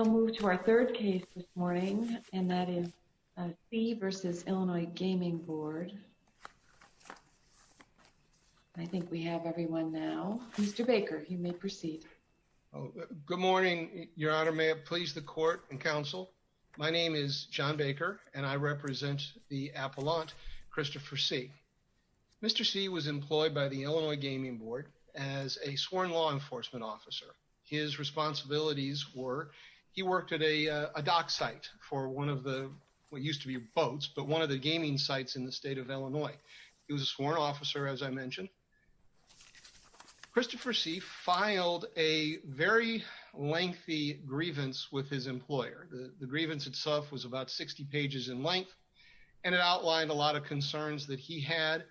We'll move to our third case this morning, and that is See v. Illinois Gaming Board. I think we have everyone now. Mr. Baker, you may proceed. Good morning, Your Honor. May it please the Court and Counsel? My name is John Baker, and I represent the appellant, Christopher See. Mr. See was employed by the Illinois Gaming Board as a sworn law enforcement officer. His responsibilities were, he worked at a dock site for one of the, what used to be boats, but one of the gaming sites in the state of Illinois. He was a sworn officer, as I mentioned. Christopher See filed a very lengthy grievance with his employer. The grievance itself was about 60 pages in length, and it outlined a lot of concerns that he had,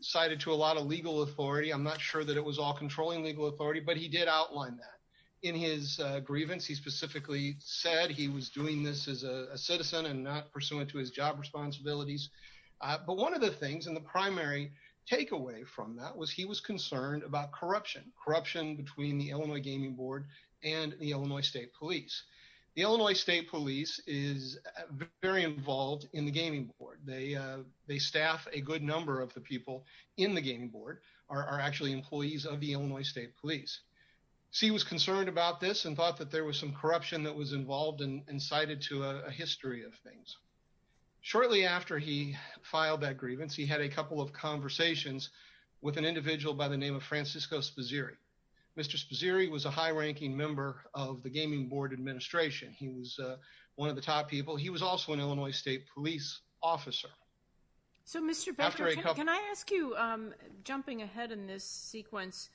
cited to a lot of legal authority. I'm not sure that it was all controlling legal authority, but he did outline that. In his grievance, he specifically said he was doing this as a citizen and not pursuant to his job responsibilities. But one of the things, and the primary takeaway from that, was he was concerned about corruption. Corruption between the Illinois Gaming Board and the Illinois State Police. The Illinois State Police is very involved in the Gaming Board. They staff a good number of the people in the Gaming Board, are actually employees of the Illinois State Police. See was concerned about this and thought that there was some corruption that was involved and cited to a history of things. Shortly after he filed that grievance, he had a couple of conversations with an individual by the name of Francisco Sposiri. Mr. Sposiri was a high-ranking member of the Gaming Board administration. He was one of the top people. He was also an Illinois State Police officer. So, Mr. Becker, can I ask you, jumping ahead in this sequence,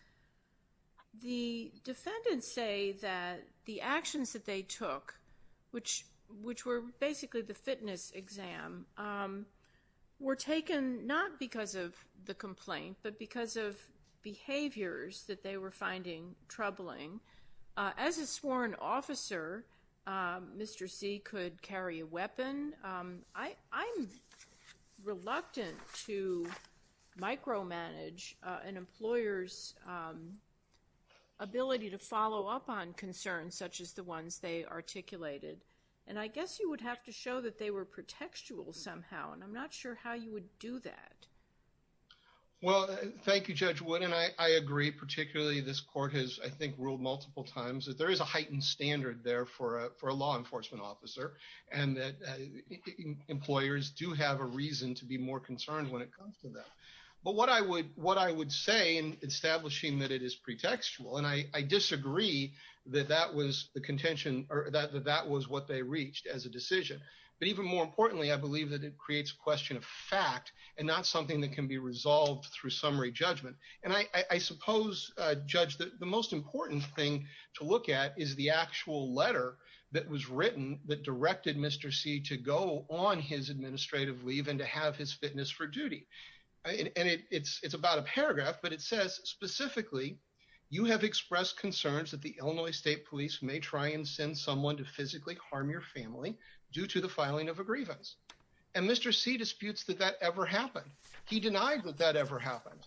the defendants say that the actions that they took, which were basically the fitness exam, were taken not because of the complaint, but because of behaviors that they were finding troubling. As a sworn officer, Mr. See could carry a weapon. I'm reluctant to micromanage an employer's ability to follow up on concerns such as the ones they articulated. And I guess you would have to show that they were pretextual somehow, and I'm not sure how you would do that. Well, thank you, Judge Wood, and I agree. Particularly, this court has, I think, ruled multiple times that there is a heightened standard there for a law enforcement officer and that employers do have a reason to be more concerned when it comes to them. But what I would say in establishing that it is pretextual, and I disagree that that was what they reached as a decision, but even more importantly, I believe that it creates a question of fact and not something that can be resolved through summary judgment. And I suppose, Judge, that the most important thing to look at is the actual letter that was written that directed Mr. See to go on his administrative leave and to have his fitness for duty. And it's about a paragraph, but it says, specifically, you have expressed concerns that the Illinois State Police may try and send someone to physically harm your family due to the filing of a grievance. And Mr. See disputes that that ever happened. He denied that that ever happened.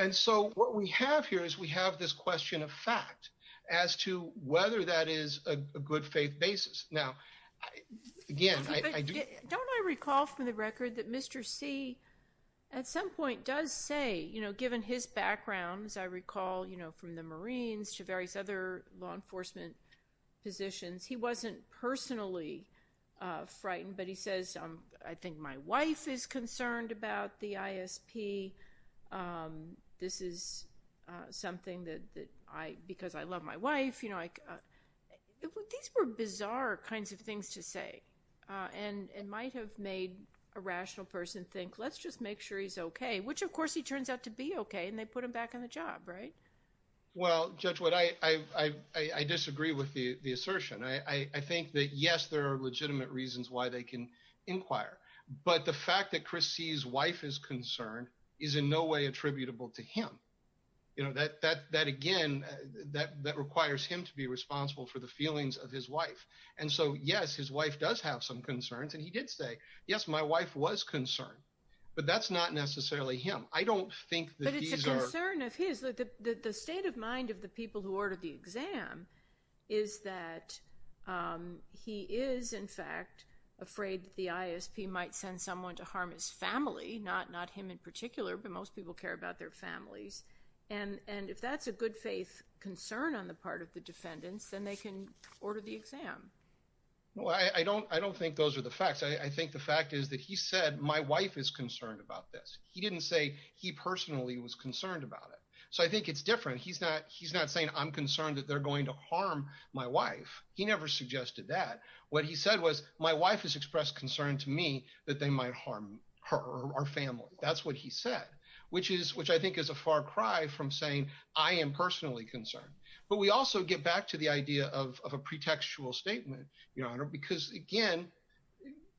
And so what we have here is we have this question of fact as to whether that is a good faith basis. Don't I recall from the record that Mr. See, at some point, does say, you know, given his background, as I recall, you know, from the Marines to various other law enforcement positions, he wasn't personally frightened, but he says, I think my wife is concerned about the ISP. This is something that I, because I love my wife. These were bizarre kinds of things to say and might have made a rational person think, let's just make sure he's OK, which, of course, he turns out to be OK. And they put him back on the job, right? Well, Judge, I disagree with the assertion. I think that, yes, there are legitimate reasons why they can inquire. But the fact that Chris See's wife is concerned is in no way attributable to him. You know, that again, that requires him to be responsible for the feelings of his wife. And so, yes, his wife does have some concerns. And he did say, yes, my wife was concerned, but that's not necessarily him. I don't think that these are. But it's a concern of his. The state of mind of the people who ordered the exam is that he is, in fact, afraid that the ISP might send someone to harm his family, not him in particular, but most people care about their families. And if that's a good faith concern on the part of the defendants, then they can order the exam. Well, I don't think those are the facts. I think the fact is that he said, my wife is concerned about this. He didn't say he personally was concerned about it. So I think it's different. He's not saying, I'm concerned that they're going to harm my wife. He never suggested that. What he said was, my wife has expressed concern to me that they might harm her or our family. That's what he said, which is, which I think is a far cry from saying I am personally concerned. But we also get back to the idea of a pretextual statement, Your Honor, because, again,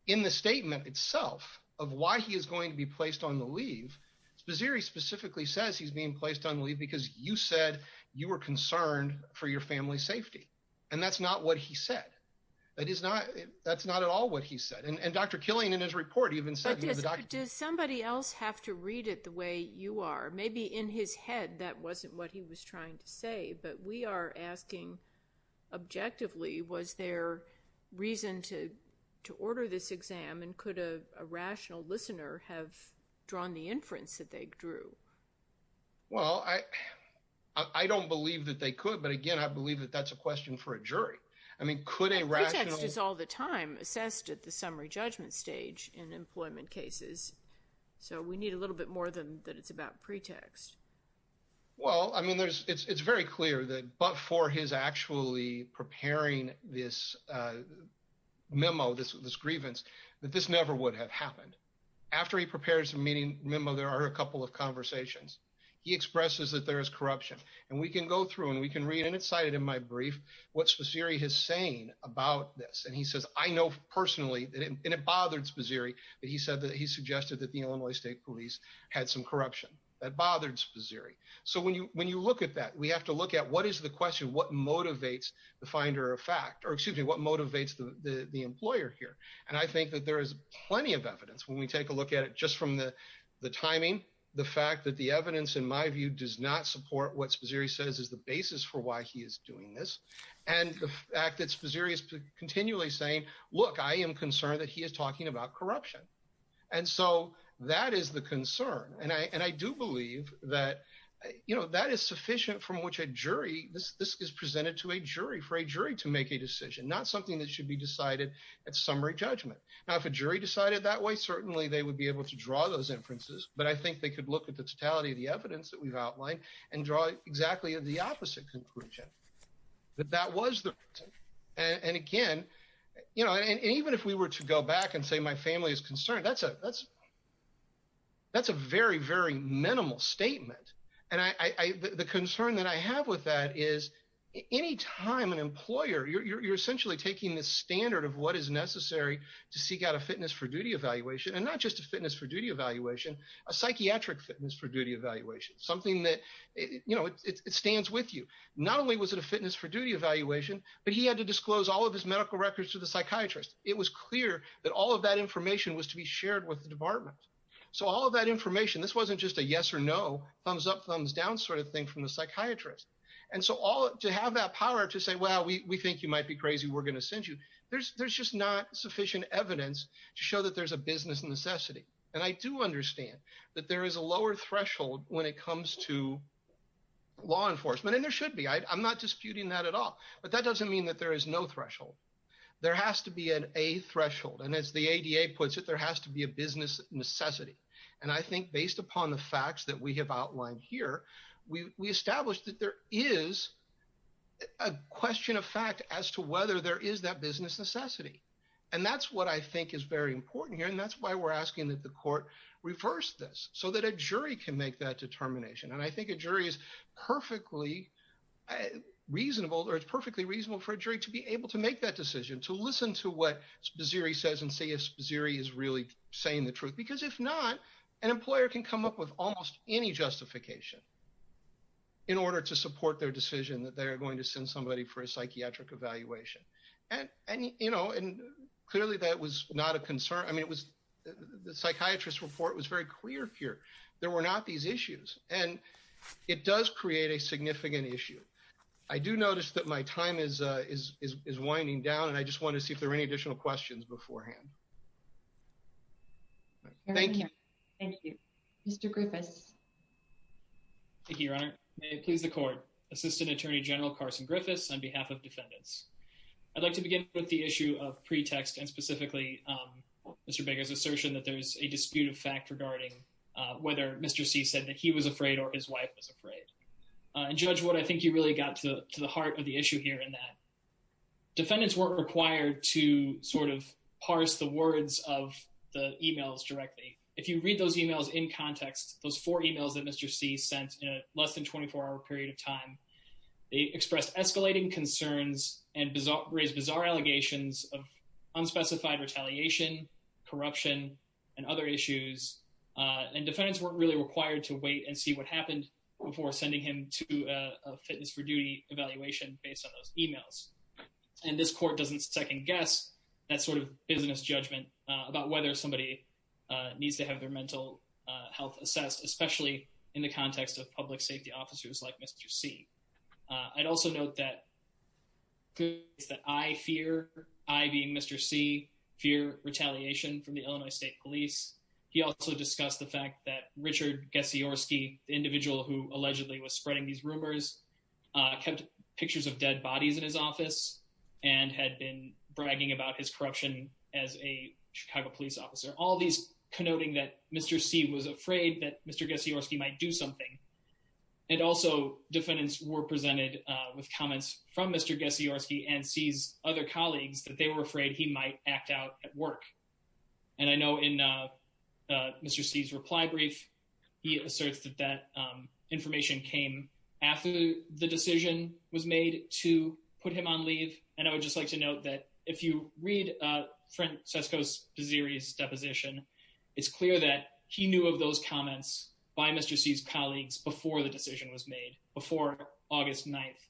in the statement itself of why he is going to be placed on the leave, Maziri specifically says he's being placed on leave because you said you were concerned for your family's safety. And that's not what he said. That is not. That's not at all what he said. And Dr. Killian, in his report, he even said he was a doctor. But does somebody else have to read it the way you are? Maybe in his head that wasn't what he was trying to say. But we are asking, objectively, was there reason to order this exam? And could a rational listener have drawn the inference that they drew? Well, I don't believe that they could. But, again, I believe that that's a question for a jury. I mean, could a rational. Pretext is all the time assessed at the summary judgment stage in employment cases. So we need a little bit more than that. It's about pretext. Well, I mean, it's very clear that but for his actually preparing this memo, this grievance, that this never would have happened. After he prepares the meeting memo, there are a couple of conversations. He expresses that there is corruption. And we can go through and we can read, and it's cited in my brief, what Sposiri is saying about this. And he says, I know personally, and it bothered Sposiri, that he said that he suggested that the Illinois State Police had some corruption. That bothered Sposiri. So when you look at that, we have to look at what is the question, what motivates the finder of fact? Or, excuse me, what motivates the employer here? And I think that there is plenty of evidence when we take a look at it just from the timing. The fact that the evidence, in my view, does not support what Sposiri says is the basis for why he is doing this. And the fact that Sposiri is continually saying, look, I am concerned that he is talking about corruption. And so that is the concern. And I do believe that, you know, that is sufficient from which a jury, this is presented to a jury for a jury to make a decision. Not something that should be decided at summary judgment. Now, if a jury decided that way, certainly they would be able to draw those inferences. But I think they could look at the totality of the evidence that we have outlined and draw exactly the opposite conclusion. That that was the reason. And again, you know, and even if we were to go back and say my family is concerned, that is a very, very minimal statement. And the concern that I have with that is any time an employer, you are essentially taking the standard of what is necessary to seek out a fitness for duty evaluation. And not just a fitness for duty evaluation, a psychiatric fitness for duty evaluation. Something that, you know, it stands with you. Not only was it a fitness for duty evaluation, but he had to disclose all of his medical records to the psychiatrist. It was clear that all of that information was to be shared with the department. So all of that information, this wasn't just a yes or no, thumbs up, thumbs down sort of thing from the psychiatrist. And so all to have that power to say, well, we think you might be crazy, we're going to send you. There's just not sufficient evidence to show that there's a business necessity. And I do understand that there is a lower threshold when it comes to law enforcement. And there should be. I'm not disputing that at all. But that doesn't mean that there is no threshold. There has to be an A threshold. And as the ADA puts it, there has to be a business necessity. And I think based upon the facts that we have outlined here, we established that there is a question of fact as to whether there is that business necessity. And that's what I think is very important here. And that's why we're asking that the court reverse this so that a jury can make that determination. And I think a jury is perfectly reasonable or it's perfectly reasonable for a jury to be able to make that decision, to listen to what Sposiri says and see if Sposiri is really saying the truth. Because if not, an employer can come up with almost any justification in order to support their decision that they are going to send somebody for a psychiatric evaluation. And clearly that was not a concern. I mean, the psychiatrist's report was very clear here. There were not these issues. But it does create a significant issue. I do notice that my time is winding down and I just want to see if there are any additional questions beforehand. Thank you. Thank you. Mr. Griffiths. Thank you, Your Honor. May it please the court. Assistant Attorney General Carson Griffiths on behalf of defendants. I'd like to begin with the issue of pretext and specifically Mr. Baker's assertion that there's a dispute of fact regarding whether Mr. C said that he was afraid or his wife was afraid. And Judge Wood, I think you really got to the heart of the issue here in that defendants weren't required to sort of parse the words of the emails directly. If you read those emails in context, those four emails that Mr. C sent in a less than 24-hour period of time, they expressed escalating concerns and raised bizarre allegations of unspecified retaliation, corruption, and other issues. And defendants weren't really required to wait and see what happened before sending him to a fitness for duty evaluation based on those emails. And this court doesn't second guess that sort of business judgment about whether somebody needs to have their mental health assessed, especially in the context of public safety officers like Mr. C. I'd also note that I fear, I being Mr. C, fear retaliation from the Illinois State Police. He also discussed the fact that Richard Gasiorski, the individual who allegedly was spreading these rumors, kept pictures of dead bodies in his office and had been bragging about his corruption as a Chicago police officer. All these connoting that Mr. C was afraid that Mr. Gasiorski might do something. And also defendants were presented with comments from Mr. Gasiorski and C's other colleagues that they were afraid he might act out at work. And I know in Mr. C's reply brief, he asserts that that information came after the decision was made to put him on leave. And I would just like to note that if you read Fred Sesco's series deposition, it's clear that he knew of those comments by Mr. C's colleagues before the decision was made before August 9th.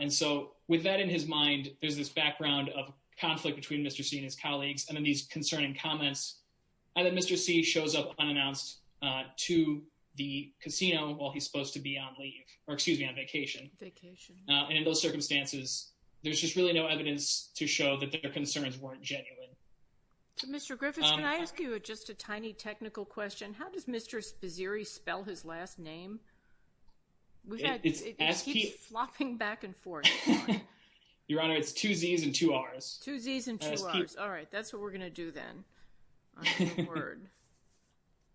And so with that in his mind, there's this background of conflict between Mr. C and his colleagues. And then these concerning comments that Mr. C shows up unannounced to the casino while he's supposed to be on leave or excuse me, on vacation. And in those circumstances, there's just really no evidence to show that their concerns weren't genuine. So Mr. Griffiths, can I ask you just a tiny technical question? How does Mr. Bazziri spell his last name? It keeps flopping back and forth. Your Honor, it's two Z's and two R's. Two Z's and two R's. All right. That's what we're going to do then.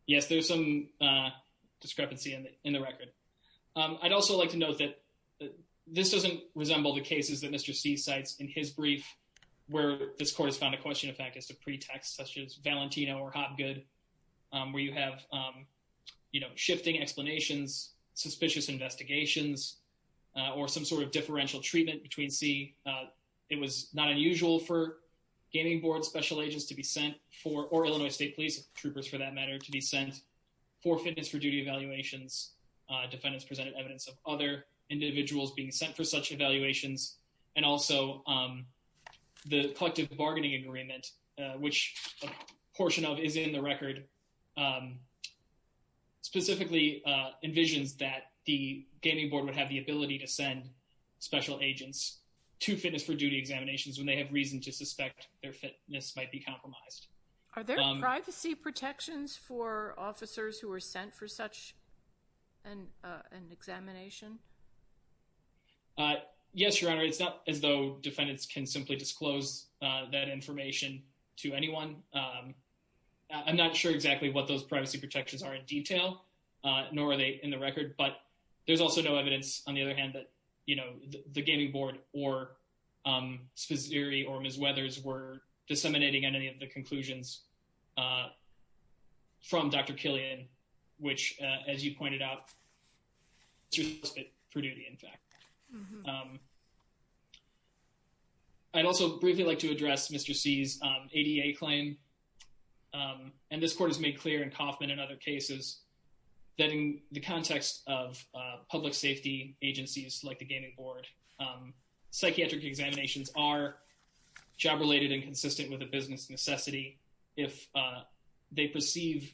Yes, there's some discrepancy in the record. I'd also like to note that this doesn't resemble the cases that Mr. C cites in his brief, where this court has found a question, in fact, as a pretext, such as Valentino or Hopgood, where you have, you know, shifting explanations, suspicious investigations, or some sort of differential treatment between C. It was not unusual for gaming board special agents to be sent for, or Illinois State Police troopers for that matter, to be sent for fitness for duty evaluations. Defendants presented evidence of other individuals being sent for such evaluations. And also, the collective bargaining agreement, which a portion of is in the record, specifically envisions that the gaming board would have the ability to send special agents to fitness for duty examinations when they have reason to suspect their fitness might be compromised. Are there privacy protections for officers who were sent for such an examination? Yes, Your Honor. It's not as though defendants can simply disclose that information to anyone. I'm not sure exactly what those privacy protections are in detail, nor are they in the record. But there's also no evidence, on the other hand, that, you know, the gaming board or Spizzeri or Ms. Weathers were disseminating any of the conclusions from Dr. Killian, which, as you pointed out, she was sent for duty, in fact. I'd also briefly like to address Mr. C's ADA claim. And this court has made clear in Kaufman and other cases, that in the context of public safety agencies like the gaming board, psychiatric examinations are job-related and consistent with a business necessity if they perceive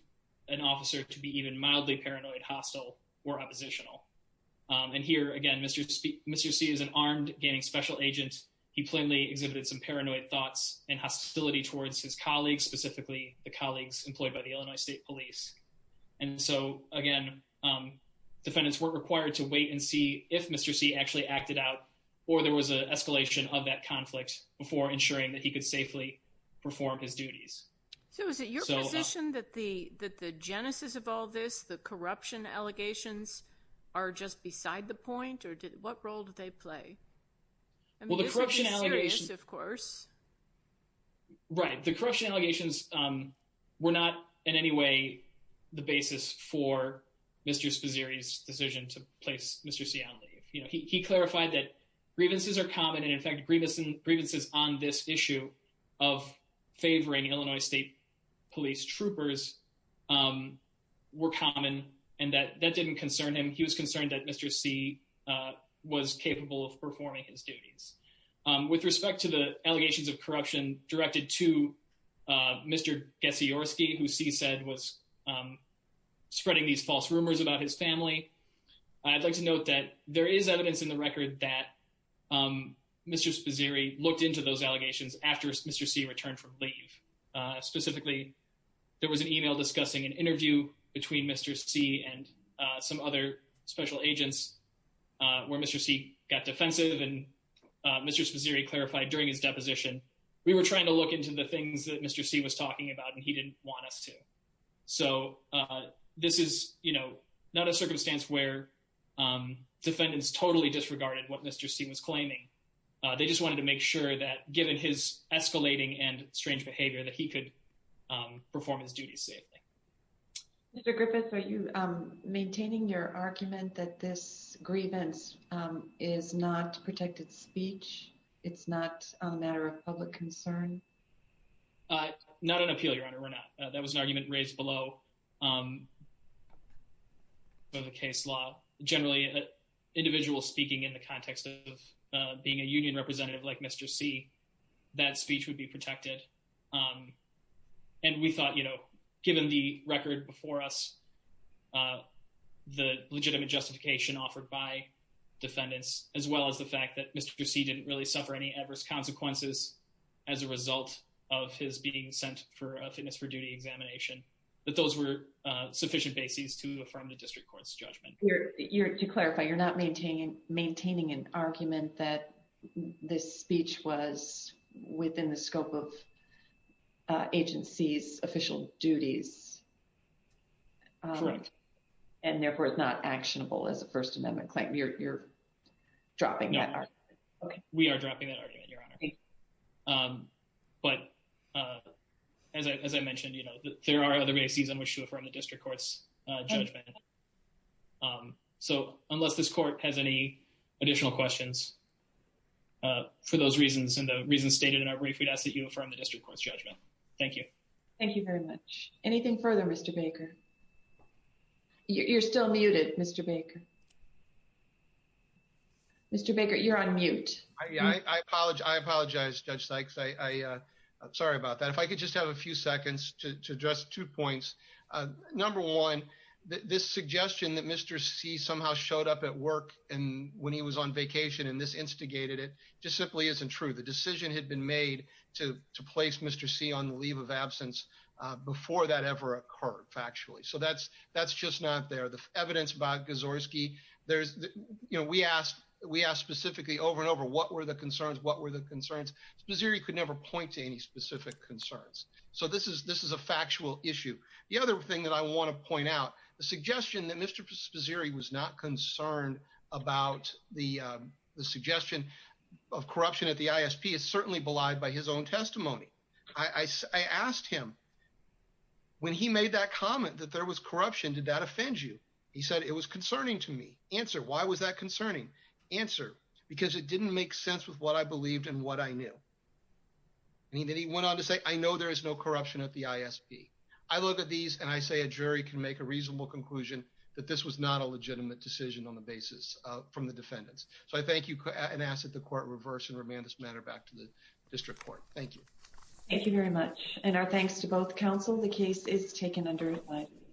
an officer to be even mildly paranoid, hostile, or oppositional. And here, again, Mr. C is an armed gaming special agent. He plainly exhibited some paranoid thoughts and hostility towards his colleagues, specifically the colleagues employed by the Illinois State Police. And so, again, defendants were required to wait and see if Mr. C actually acted out or there was an escalation of that conflict before ensuring that he could safely perform his duties. So is it your position that the genesis of all this, the corruption allegations, are just beside the point, or what role do they play? Well, the corruption allegations— I mean, this is serious, of course. Right. The corruption allegations were not in any way the basis for Mr. Spizzeri's decision to place Mr. C on leave. You know, he clarified that grievances are common, and, in fact, grievances on this issue of favoring Illinois State Police troopers were common, and that didn't concern him. He was concerned that Mr. C was capable of performing his duties. With respect to the allegations of corruption directed to Mr. Gasiorski, who C said was spreading these false rumors about his family, I'd like to note that there is evidence in the record that Mr. Spizzeri looked into those allegations after Mr. C returned from leave. Specifically, there was an email discussing an interview between Mr. C and some other special agents where Mr. C got defensive and Mr. Spizzeri clarified during his deposition, we were trying to look into the things that Mr. C was talking about, and he didn't want us to. So, this is, you know, not a circumstance where defendants totally disregarded what Mr. C was claiming. They just wanted to make sure that, given his escalating and strange behavior, that he could perform his duties safely. Mr. Griffith, are you maintaining your argument that this grievance is not protected speech? It's not a matter of public concern? Not an appeal, Your Honor, we're not. That was an argument raised below for the case law. Generally, an individual speaking in the context of being a union representative like Mr. C, that speech would be protected. And we thought, you know, given the record before us, the legitimate justification offered by defendants, as well as the fact that Mr. C didn't really suffer any adverse consequences as a result of his being sent for a fitness for duty examination, that those were sufficient bases to affirm the district court's judgment. To clarify, you're not maintaining an argument that this speech was within the scope of agencies' official duties? Correct. And therefore, it's not actionable as a First Amendment claim? You're dropping that argument? We are dropping that argument, Your Honor. But as I mentioned, you know, there are other bases on which to affirm the district court's judgment. So unless this court has any additional questions for those reasons and the reasons stated in our brief, we'd ask that you affirm the district court's judgment. Thank you. Thank you very much. Anything further, Mr. Baker? You're still muted, Mr. Baker. Mr. Baker, you're on mute. I apologize, Judge Sykes. I'm sorry about that. If I could just have a few seconds to address two points. Number one, this suggestion that Mr. C somehow showed up at work when he was on vacation and this instigated it just simply isn't true. The decision had been made to place Mr. C on the leave of absence before that ever occurred, factually. So that's just not there. The evidence by Gazorski, you know, we asked specifically over and over what were the concerns, what were the concerns. Spazzeri could never point to any specific concerns. So this is a factual issue. The other thing that I want to point out, the suggestion that Mr. Spazzeri was not concerned about the suggestion of corruption at the ISP is certainly belied by his own testimony. I asked him when he made that comment that there was corruption, did that offend you? He said it was concerning to me. Answer, why was that concerning? Answer, because it didn't make sense with what I believed and what I knew. And then he went on to say, I know there is no corruption at the ISP. I look at these and I say a jury can make a reasonable conclusion that this was not a legitimate decision on the basis from the defendants. So I thank you and ask that the court reverse and remand this matter back to the district court. Thank you. Thank you very much. And our thanks to both counsel. The case is taken under advice.